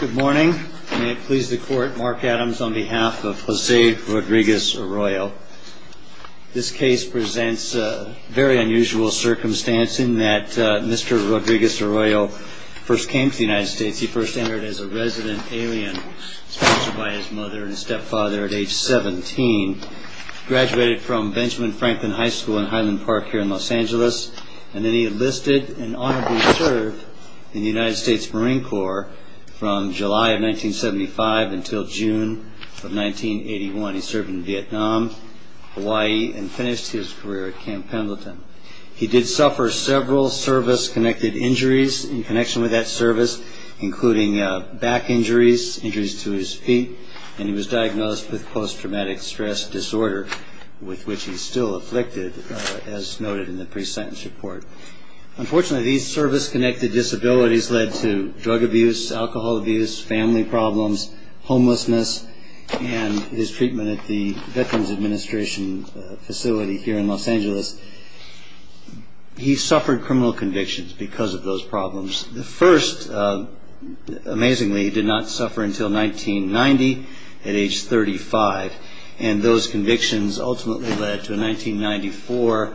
Good morning. May it please the court, Mark Adams on behalf of Jose Rodriguez-Arroyo. This case presents a very unusual circumstance in that Mr. Rodriguez-Arroyo first came to the United States. He first entered as a resident alien sponsored by his mother and stepfather at age 17. Graduated from Benjamin Franklin High School in Highland Park here in Los Angeles. And then he enlisted and honorably served in the United States Marine Corps from July of 1975 until June of 1981. He served in Vietnam, Hawaii, and finished his career at Camp Pendleton. He did suffer several service-connected injuries in connection with that service, including back injuries, injuries to his feet. And he was diagnosed with post-traumatic stress disorder, with which he's still afflicted, as noted in the pre-sentence report. Unfortunately, these service-connected disabilities led to drug abuse, alcohol abuse, family problems, homelessness, and his treatment at the Veterans Administration facility here in Los Angeles. He suffered criminal convictions because of those problems. The first, amazingly, he did not suffer until 1990 at age 35. And those convictions ultimately led to a 1994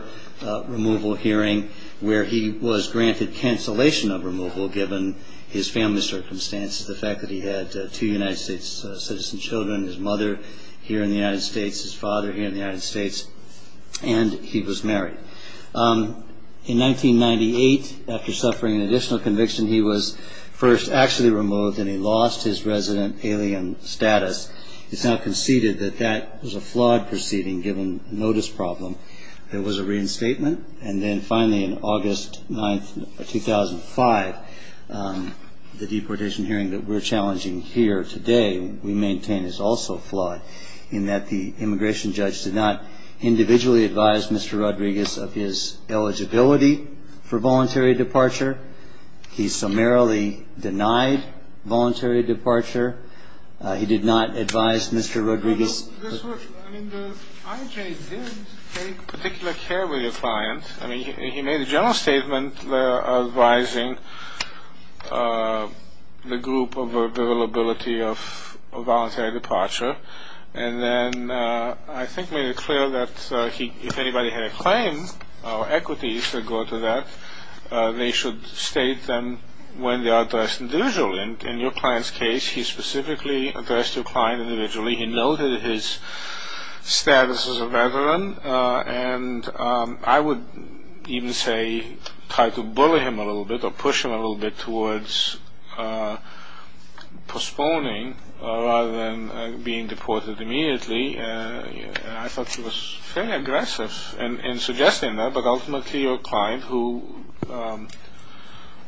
removal hearing where he was granted cancellation of removal, given his family circumstances, the fact that he had two United States citizen children, his mother here in the United States, his father here in the United States, and he was married. In 1998, after suffering an additional conviction, he was first actually removed, and he lost his resident alien status. It's now conceded that that was a flawed proceeding, given a notice problem. There was a reinstatement. And then finally, on August 9, 2005, the deportation hearing that we're challenging here today, we maintain, is also flawed, in that the immigration judge did not individually advise Mr. Rodriguez of his eligibility for voluntary departure. He summarily denied voluntary departure. He did not advise Mr. Rodriguez. I mean, the IJ did take particular care with your client. I mean, he made a general statement advising the group of availability of voluntary departure, and then I think made it clear that if anybody had a claim or equities that go to that, they should state them when they are addressed individually. In your client's case, he specifically addressed your client individually. He noted his status as a veteran, and I would even say try to bully him a little bit, or push him a little bit towards postponing rather than being deported immediately. I thought he was fairly aggressive in suggesting that, but ultimately your client, who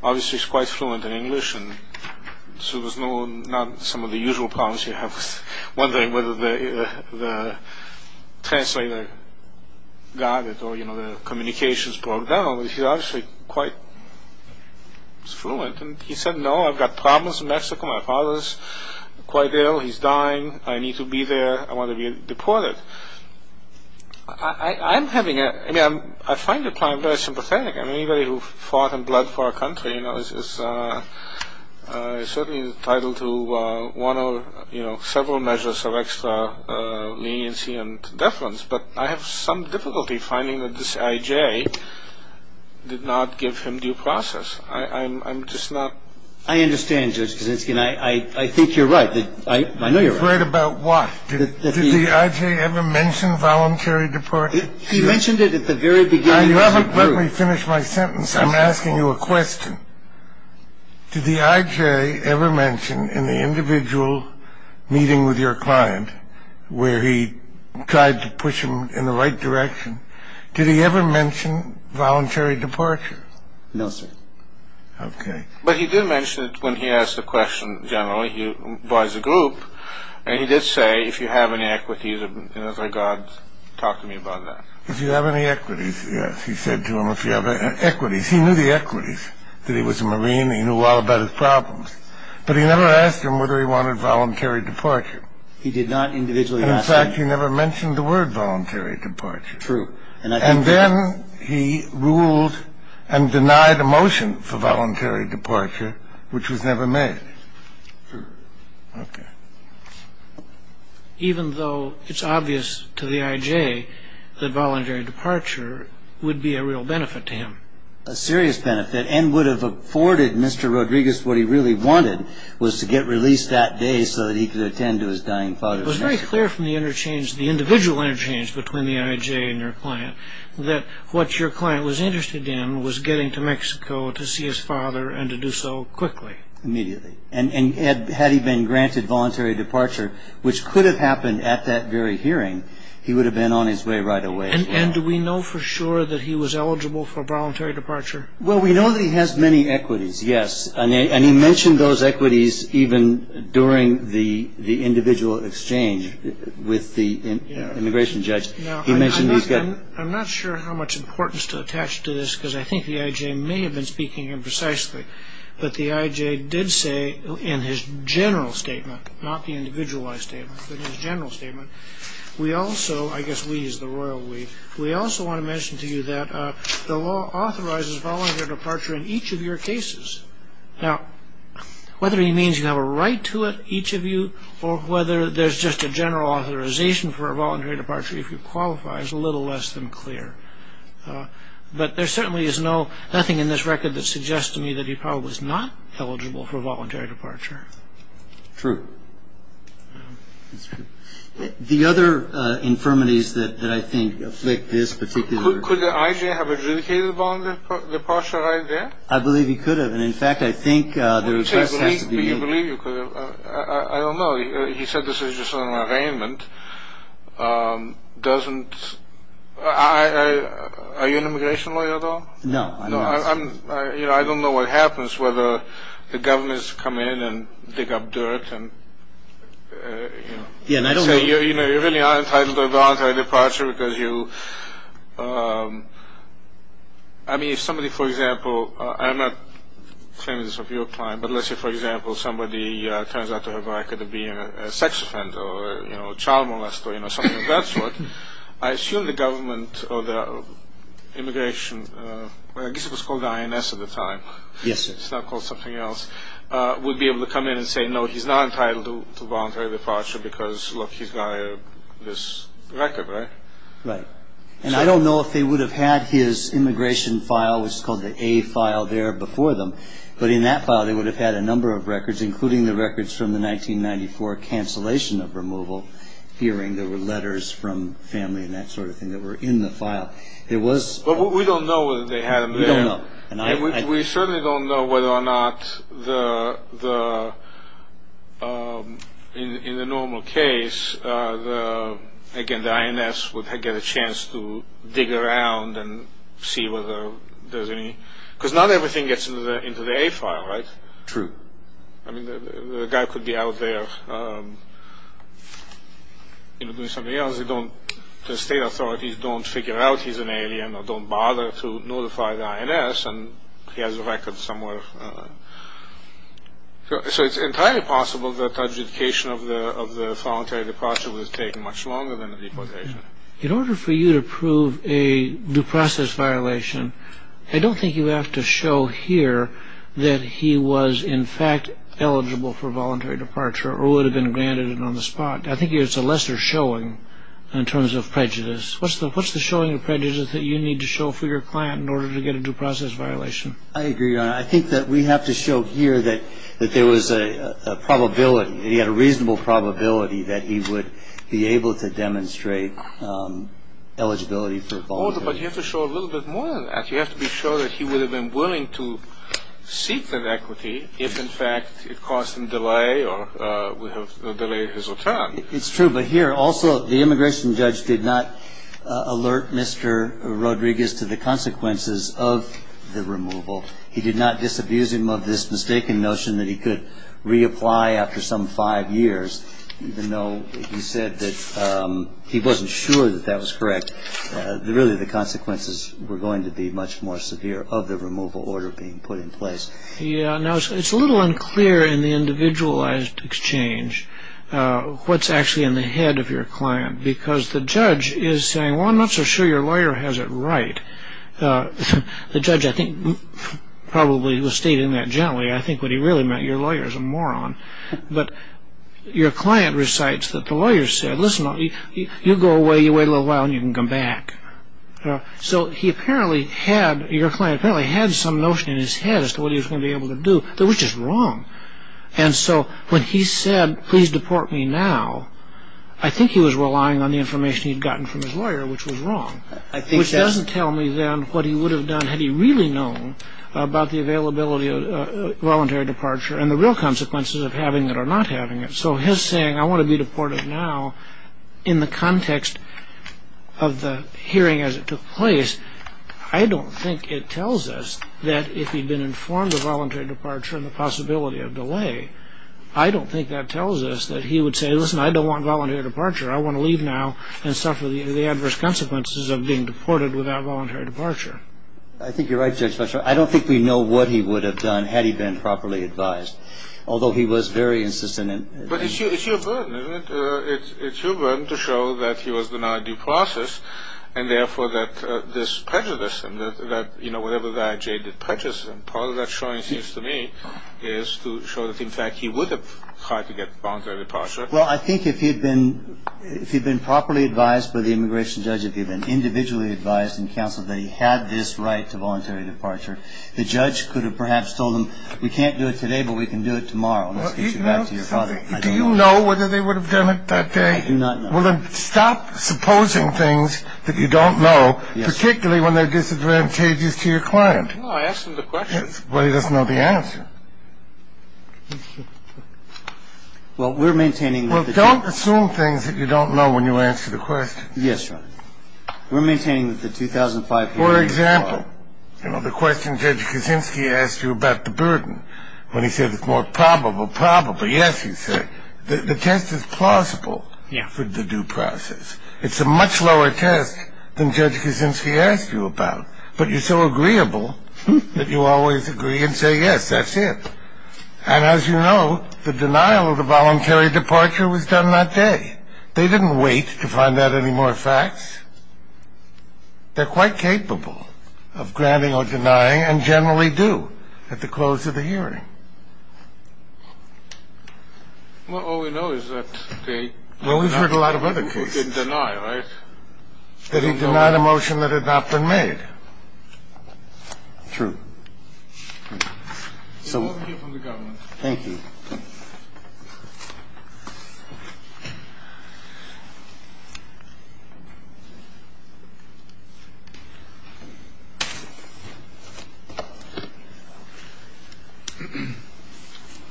obviously is quite fluent in English and not some of the usual problems you have with wondering whether the translator got it or the communications broke down, he's obviously quite fluent. And he said, no, I've got problems in Mexico. My father's quite ill. He's dying. I want to be deported. I find your client very sympathetic. I mean, anybody who fought and bled for our country is certainly entitled to one or several measures of extra leniency and deference, but I have some difficulty finding that this IJ did not give him due process. I'm just not. I understand, Judge Kaczynski, and I think you're right. I know you're right. I'm right about what? Did the IJ ever mention voluntary departure? He mentioned it at the very beginning. Let me finish my sentence. I'm asking you a question. Did the IJ ever mention in the individual meeting with your client where he tried to push him in the right direction, did he ever mention voluntary departure? No, sir. Okay. But he did mention it when he asked the question generally. He advised the group, and he did say, if you have any equities in this regard, talk to me about that. If you have any equities, yes. He said to him if you have equities. He knew the equities, that he was a Marine. He knew all about his problems, but he never asked him whether he wanted voluntary departure. He did not individually ask him. In fact, he never mentioned the word voluntary departure. True. And then he ruled and denied a motion for voluntary departure, which was never made. Okay. Even though it's obvious to the IJ that voluntary departure would be a real benefit to him. A serious benefit and would have afforded Mr. Rodriguez what he really wanted was to get released that day so that he could attend to his dying father. It was very clear from the interchange, the individual interchange between the IJ and your client, that what your client was interested in was getting to Mexico to see his father and to do so quickly. Immediately. And had he been granted voluntary departure, which could have happened at that very hearing, he would have been on his way right away. And do we know for sure that he was eligible for voluntary departure? Well, we know that he has many equities, yes. And he mentioned those equities even during the individual exchange with the immigration judge. Now, I'm not sure how much importance to attach to this, because I think the IJ may have been speaking imprecisely, but the IJ did say in his general statement, not the individualized statement, but his general statement, we also, I guess we is the royal we, we also want to mention to you that the law authorizes voluntary departure in each of your cases. Now, whether he means you have a right to it, each of you, or whether there's just a general authorization for a voluntary departure if you qualify is a little less than clear. But there certainly is no, nothing in this record that suggests to me that he probably was not eligible for voluntary departure. True. The other infirmities that I think afflict this particular. Could the IJ have adjudicated a voluntary departure right there? I believe he could have. And in fact, I think the request has to be made. I don't know. He said this is just an arraignment. Doesn't, are you an immigration lawyer at all? No, I'm not. You know, I don't know what happens, whether the governments come in and dig up dirt and, you know. Yeah, and I don't know. You know, you're really not entitled to a voluntary departure because you, I mean, if somebody, for example, I'm not saying this of your client, but let's say, for example, somebody turns out to have a record of being a sex offender or, you know, a child molester, you know, something of that sort. I assume the government or the immigration, I guess it was called INS at the time. Yes, sir. It's not called something else, would be able to come in and say, no, he's not entitled to voluntary departure because, look, he's got this record, right? Right. And I don't know if they would have had his immigration file, which is called the A file, there before them. But in that file, they would have had a number of records, including the records from the 1994 cancellation of removal hearing. There were letters from family and that sort of thing that were in the file. It was. But we don't know whether they had them there. We don't know. And we certainly don't know whether or not in the normal case, again, the INS would get a chance to dig around and see whether there's any. Because not everything gets into the A file, right? True. I mean, the guy could be out there, you know, doing something else. They don't, the state authorities don't figure out he's an alien or don't bother to notify the INS. And he has a record somewhere. So it's entirely possible that adjudication of the voluntary departure was taking much longer than the deportation. In order for you to prove a due process violation, I don't think you have to show here that he was, in fact, eligible for voluntary departure or would have been granted it on the spot. I think it's a lesser showing in terms of prejudice. What's the what's the showing of prejudice that you need to show for your client in order to get a due process violation? I agree. Your Honor, I think that we have to show here that there was a probability. He had a reasonable probability that he would be able to demonstrate eligibility for voluntary departure. But you have to show a little bit more than that. You have to be sure that he would have been willing to seek that equity if, in fact, it caused him delay or would have delayed his return. It's true. But here, also, the immigration judge did not alert Mr. Rodriguez to the consequences of the removal. He did not disabuse him of this mistaken notion that he could reapply after some five years, even though he said that he wasn't sure that that was correct. Really, the consequences were going to be much more severe of the removal order being put in place. Yeah. Now, it's a little unclear in the individualized exchange what's actually in the head of your client, because the judge is saying, well, I'm not so sure your lawyer has it right. The judge, I think, probably was stating that generally. I think what he really meant, your lawyer is a moron. But your client recites that the lawyer said, listen, you go away, you wait a little while, and you can come back. So he apparently had, your client apparently had some notion in his head as to what he was going to be able to do that was just wrong. And so when he said, please deport me now, I think he was relying on the information he'd gotten from his lawyer, which was wrong. Which doesn't tell me then what he would have done had he really known about the availability of voluntary departure and the real consequences of having it or not having it. So his saying, I want to be deported now, in the context of the hearing as it took place, I don't think it tells us that if he'd been informed of voluntary departure and the possibility of delay, I don't think that tells us that he would say, listen, I don't want voluntary departure. I want to leave now and suffer the adverse consequences of being deported without voluntary departure. I think you're right, Judge Fletcher. I don't think we know what he would have done had he been properly advised. Although he was very insistent. But it's your burden, isn't it? It's your burden to show that he was denied due process and therefore that this prejudice and that, you know, whatever that jaded prejudice, part of that showing seems to me is to show that, in fact, he would have tried to get voluntary departure. Well, I think if he'd been properly advised by the immigration judge, if he'd been individually advised in counsel that he had this right to voluntary departure, the judge could have perhaps told him, we can't do it today, but we can do it tomorrow. Let's get you back to your father. Do you know whether they would have done it that day? I do not know. Well, then stop supposing things that you don't know, particularly when they're disadvantages to your client. No, I asked him the question. But he doesn't know the answer. Well, we're maintaining. Well, don't assume things that you don't know when you answer the question. Yes, sir. We're maintaining the 2005. For example, you know, the question Judge Kaczynski asked you about the burden when he said it's more probable. Probably. Yes. He said the test is plausible. Yeah. For the due process. It's a much lower test than Judge Kaczynski asked you about. But you're so agreeable that you always agree and say, yes, that's it. And as you know, the denial of the voluntary departure was done that day. They didn't wait to find out any more facts. They're quite capable of granting or denying and generally do at the close of the hearing. Well, all we know is that they. Well, we've heard a lot of other cases. Is that denying that he denied a motion that had not been made? True. So from the government. Thank you.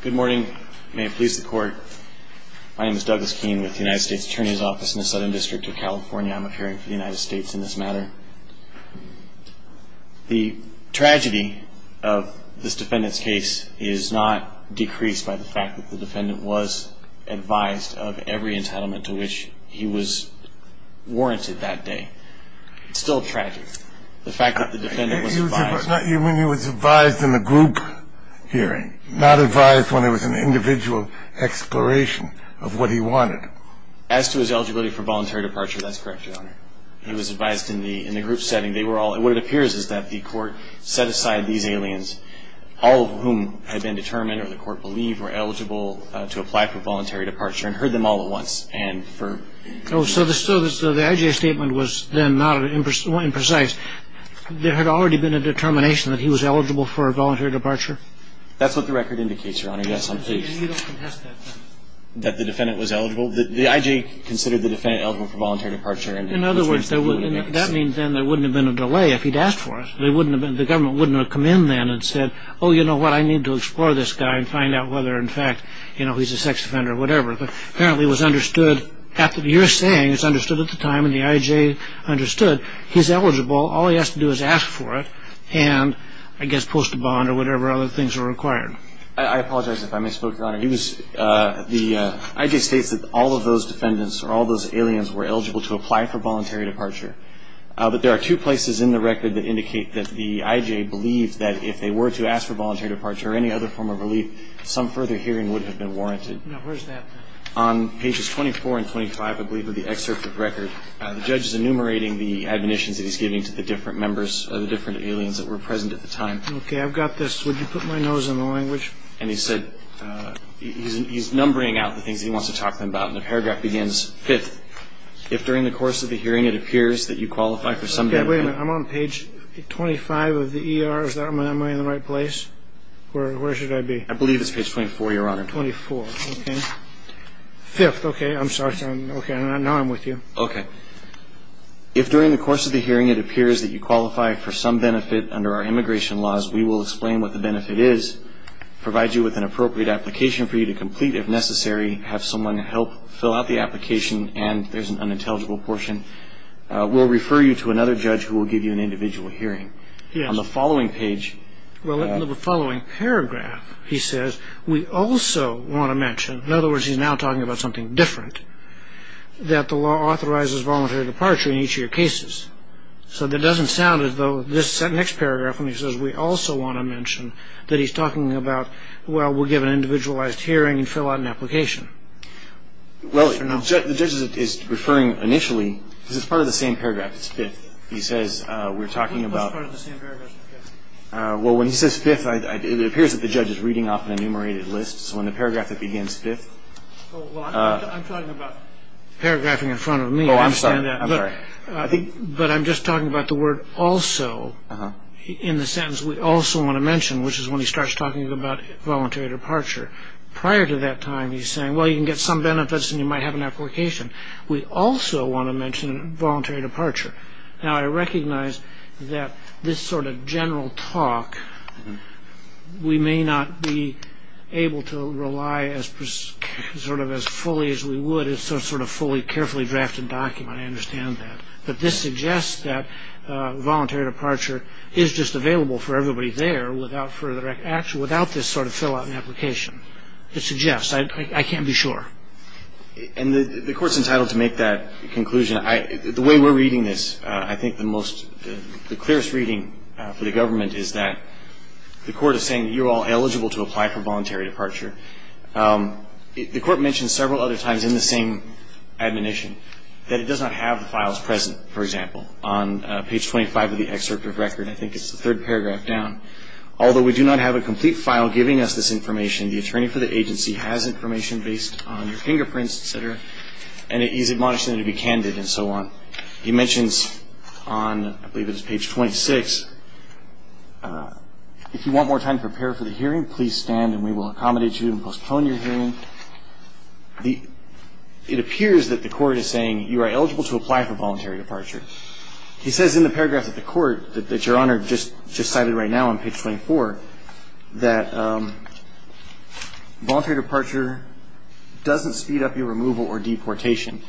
Good morning. Please support. My name is Douglas Keene with the United States Attorney's Office in the Southern District of California. I'm appearing for the United States in this matter. The tragedy of this defendant's case is not decreased by the fact that the defendant was advised of every entitlement to which he was warranted that day. It's still a tragedy. The fact that the defendant was advised. You mean he was advised in the group hearing, not advised when it was an individual exploration of what he wanted? As to his eligibility for voluntary departure, that's correct, Your Honor. He was advised in the group setting. What it appears is that the court set aside these aliens, all of whom had been determined or the court believed were eligible to apply for voluntary departure, and heard them all at once. So the I.J. statement was then not imprecise. There had already been a determination that he was eligible for voluntary departure? That's what the record indicates, Your Honor. Yes, I'm pleased. That the defendant was eligible? The I.J. considered the defendant eligible for voluntary departure. In other words, that means then there wouldn't have been a delay if he'd asked for it. The government wouldn't have come in then and said, oh, you know what? I need to explore this guy and find out whether, in fact, he's a sex offender or whatever. Apparently it was understood after your saying it was understood at the time and the I.J. understood he's eligible. All he has to do is ask for it and, I guess, post a bond or whatever other things are required. I apologize if I misspoke, Your Honor. The I.J. states that all of those defendants or all those aliens were eligible to apply for voluntary departure. But there are two places in the record that indicate that the I.J. believed that if they were to ask for voluntary departure or any other form of relief, some further hearing would have been warranted. Now, where's that? On pages 24 and 25, I believe, of the excerpt of the record, the judge is enumerating the admonitions that he's giving to the different members or the different aliens that were present at the time. Okay, I've got this. Would you put my nose in the language? And he said he's numbering out the things that he wants to talk to them about. And the paragraph begins, fifth, if during the course of the hearing it appears that you qualify for some demerit. Okay, wait a minute. I'm on page 25 of the E.R. Where should I be? I believe it's page 24, Your Honor. 24, okay. Fifth, okay, I'm sorry. Okay, now I'm with you. Okay. If during the course of the hearing it appears that you qualify for some benefit under our immigration laws, we will explain what the benefit is, provide you with an appropriate application for you to complete if necessary, have someone help fill out the application, and there's an unintelligible portion. We'll refer you to another judge who will give you an individual hearing. Yes. On the following page. Well, in the following paragraph, he says, we also want to mention, in other words he's now talking about something different, that the law authorizes voluntary departure in each of your cases. So that doesn't sound as though this next paragraph when he says we also want to mention that he's talking about, well, we'll give an individualized hearing and fill out an application. Well, the judge is referring initially because it's part of the same paragraph, it's fifth. He says we're talking about. Well, when he says fifth, it appears that the judge is reading off an enumerated list. So in the paragraph that begins fifth. I'm talking about paragraphing in front of me. Oh, I'm sorry. But I'm just talking about the word also in the sentence we also want to mention, which is when he starts talking about voluntary departure. Prior to that time, he's saying, well, you can get some benefits and you might have an application. We also want to mention voluntary departure. Now, I recognize that this sort of general talk, we may not be able to rely as sort of as fully as we would as sort of fully carefully drafted document. I understand that. But this suggests that voluntary departure is just available for everybody there without further action, without this sort of fill out an application. It suggests. I can't be sure. And the court's entitled to make that conclusion. The way we're reading this, I think the most, the clearest reading for the government is that the court is saying you're all eligible to apply for voluntary departure. The court mentioned several other times in the same admonition that it does not have the files present, for example, on page 25 of the excerpt of record. I think it's the third paragraph down. Although we do not have a complete file giving us this information, the attorney for the agency has information based on your fingerprints, et cetera, and he's admonishing you to be candid and so on. He mentions on, I believe it's page 26, if you want more time to prepare for the hearing, please stand and we will accommodate you and postpone your hearing. It appears that the court is saying you are eligible to apply for voluntary departure. He says in the paragraphs of the court that Your Honor just cited right now on page 24 that voluntary departure doesn't speed up your removal or deportation.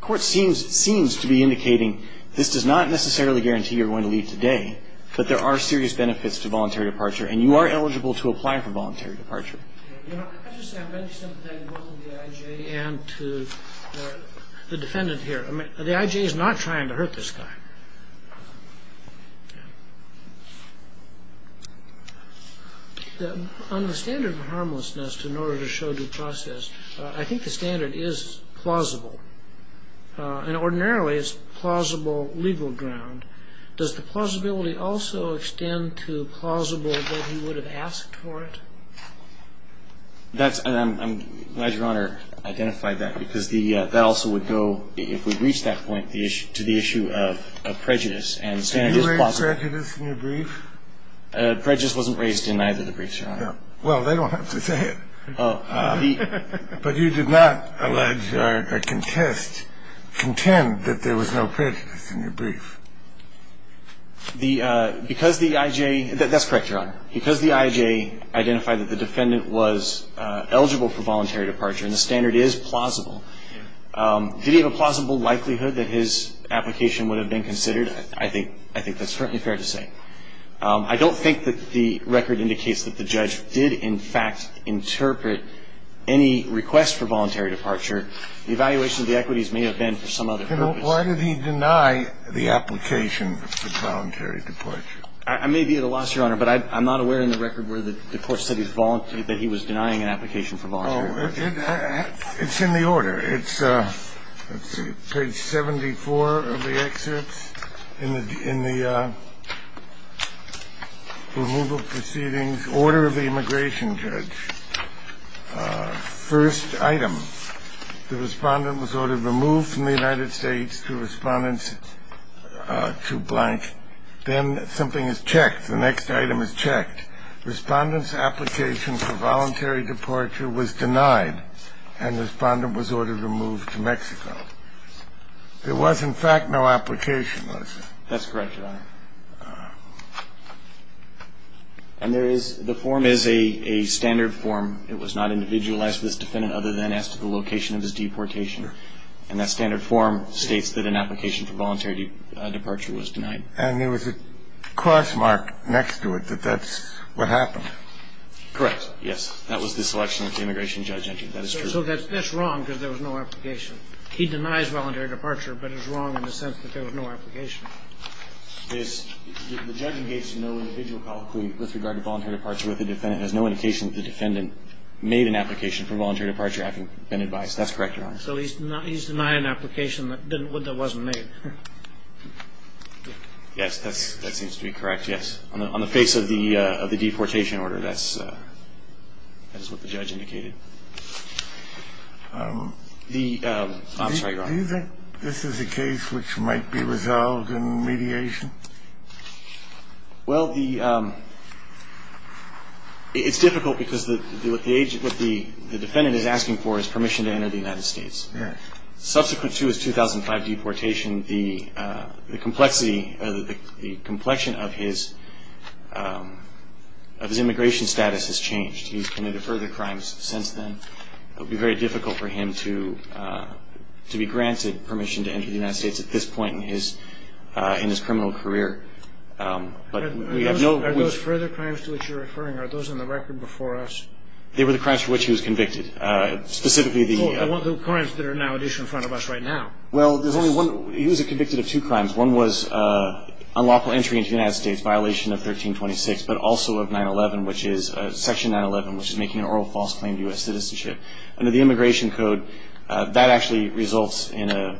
The court seems to be indicating this does not necessarily guarantee you're going to leave today, but there are serious benefits to voluntary departure, and you are eligible to apply for voluntary departure. Your Honor, I'd just say I'm very sympathetic both to the I.J. and to the defendant here. The I.J. is not trying to hurt this guy. On the standard of harmlessness in order to show due process, I think the standard is plausible, and ordinarily it's plausible legal ground. Does the plausibility also extend to plausible that he would have asked for it? I'm glad Your Honor identified that, because that also would go, if we reach that point, to the issue of prejudice, and the standard is plausible. Did you raise prejudice in your brief? Prejudice wasn't raised in neither of the briefs, Your Honor. Well, they don't have to say it. But you did not allege or contest, contend that there was no prejudice in your brief. Because the I.J. That's correct, Your Honor. Because the I.J. identified that the defendant was eligible for voluntary departure, and the standard is plausible, did he have a plausible likelihood that his application would have been considered? I think that's certainly fair to say. I don't think that the record indicates that the judge did, in fact, interpret any request for voluntary departure. The evaluation of the equities may have been for some other purpose. Why did he deny the application for voluntary departure? I may be at a loss, Your Honor, but I'm not aware in the record where the court said he was denying an application for voluntary departure. Oh, it's in the order. It's page 74 of the excerpts in the removal proceedings order of the immigration judge. First item, the respondent was ordered removed from the United States to respondents to blank. Then something is checked. The next item is checked. Respondent's application for voluntary departure was denied, and the respondent was ordered removed to Mexico. There was, in fact, no application, was there? That's correct, Your Honor. And there is the form is a standard form. It was not individualized for this defendant other than as to the location of his deportation. And that standard form states that an application for voluntary departure was denied. And there was a cross mark next to it that that's what happened. Correct, yes. That was the selection that the immigration judge entered. That is true. So that's wrong because there was no application. He denies voluntary departure, but it's wrong in the sense that there was no application. The judge engaged in no individual colloquy with regard to voluntary departure with the defendant. It has no indication that the defendant made an application for voluntary departure having been advised. That's correct, Your Honor. So he's denying an application that wasn't made. Yes, that seems to be correct, yes. On the face of the deportation order, that's what the judge indicated. I'm sorry, Your Honor. Do you think this is a case which might be resolved in mediation? Well, it's difficult because what the defendant is asking for is permission to enter the United States. Yes. Subsequent to his 2005 deportation, the complexity or the complexion of his immigration status has changed. He's committed further crimes since then. It would be very difficult for him to be granted permission to enter the United States at this point in his criminal career. Are those further crimes to which you're referring? Are those on the record before us? They were the crimes for which he was convicted. Oh, the crimes that are now at issue in front of us right now. Well, there's only one. He was convicted of two crimes. One was unlawful entry into the United States, violation of 1326, but also of section 911, which is making an oral false claim to U.S. citizenship. Under the Immigration Code, that actually results in a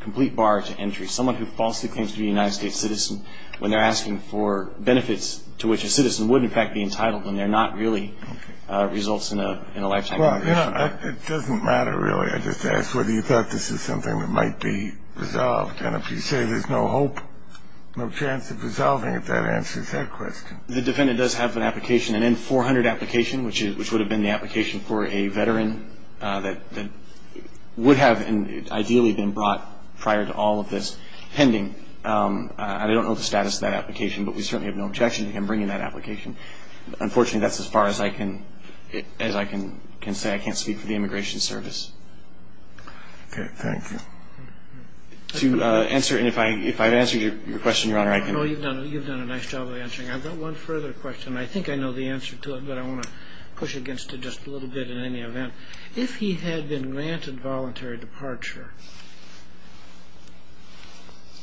complete bar to entry. Someone who falsely claims to be a United States citizen, when they're asking for benefits to which a citizen would, in fact, be entitled, when they're not really results in a lifetime. Well, it doesn't matter really, I just ask, whether you thought this is something that might be resolved. And if you say there's no hope, no chance of resolving it, that answers that question. The defendant does have an application, an N-400 application, which would have been the application for a veteran that would have ideally been brought prior to all of this pending. I don't know the status of that application, but we certainly have no objection to him bringing that application. Unfortunately, that's as far as I can say. I can't speak for the Immigration Service. Okay, thank you. To answer, and if I've answered your question, Your Honor, I can- No, you've done a nice job of answering. I've got one further question. I think I know the answer to it, but I want to push against it just a little bit in any event. If he had been granted voluntary departure,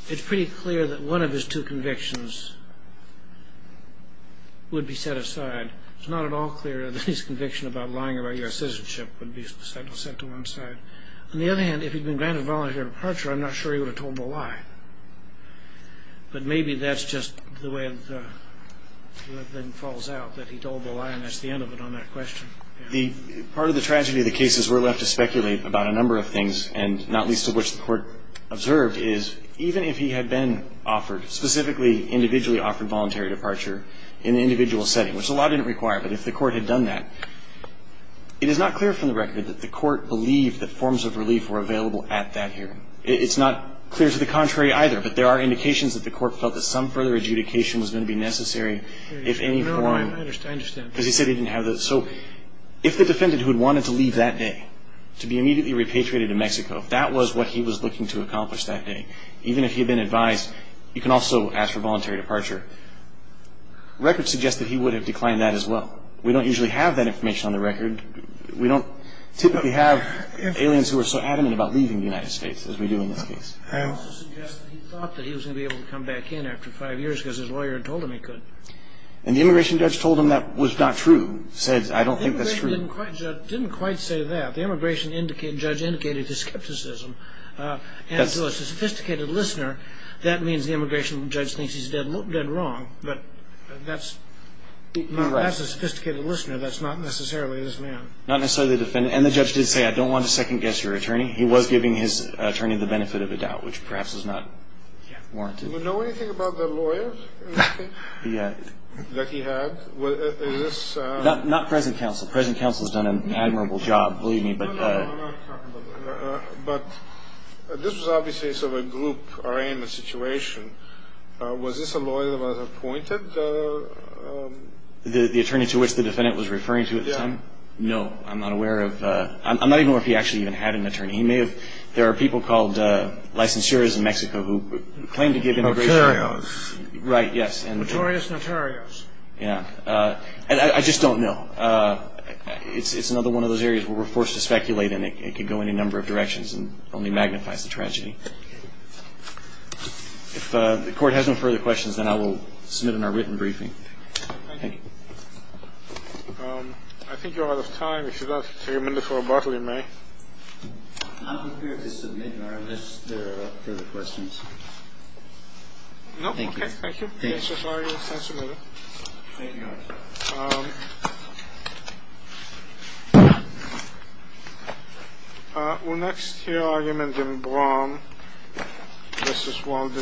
it's pretty clear that one of his two convictions would be set aside. It's not at all clear that his conviction about lying about U.S. citizenship would be set to one side. On the other hand, if he'd been granted voluntary departure, I'm not sure he would have told the lie. But maybe that's just the way it then falls out, that he told the lie, and that's the end of it on that question. Part of the tragedy of the case is we're left to speculate about a number of things, and not least of which the Court observed is even if he had been offered, specifically individually offered voluntary departure in an individual setting, which the law didn't require, but if the Court had done that, it is not clear from the record that the Court believed that forms of relief were available at that hearing. It's not clear to the contrary either, but there are indications that the Court felt that some further adjudication was going to be necessary if any form- No, no, I understand. Because he said he didn't have the- So if the defendant who had wanted to leave that day to be immediately repatriated to Mexico, if that was what he was looking to accomplish that day, even if he had been advised, you can also ask for voluntary departure, records suggest that he would have declined that as well. We don't usually have that information on the record. We don't typically have aliens who are so adamant about leaving the United States as we do in this case. I also suggest that he thought that he was going to be able to come back in after five years because his lawyer had told him he could. And the immigration judge told him that was not true, said, I don't think that's true. The immigration judge didn't quite say that. The immigration judge indicated his skepticism. And to a sophisticated listener, that means the immigration judge thinks he's dead wrong, but that's a sophisticated listener. That's not necessarily this man. Not necessarily the defendant. And the judge did say, I don't want to second-guess your attorney. He was giving his attorney the benefit of a doubt, which perhaps is not warranted. Do you know anything about the lawyer that he had? Not present counsel. Present counsel has done an admirable job, believe me. No, no, I'm not talking about that. But this was obviously sort of a group arraignment situation. Was this a lawyer that was appointed? The attorney to which the defendant was referring to at the time? Yeah. No, I'm not aware of. I'm not even aware if he actually even had an attorney. He may have. There are people called licensures in Mexico who claim to give immigration. Notarios. Right, yes. Notorious Notarios. Yeah. And I just don't know. It's another one of those areas where we're forced to speculate, and it could go any number of directions and only magnifies the tragedy. If the Court has no further questions, then I will submit in our written briefing. Thank you. I think you're out of time. We should have a minute for rebuttal in May. I'm here to submit, and I don't know if there are further questions. No, okay. Thank you. Thank you. Thank you very much. Thank you. Well, next, here are your amendments. This is Walt Disney.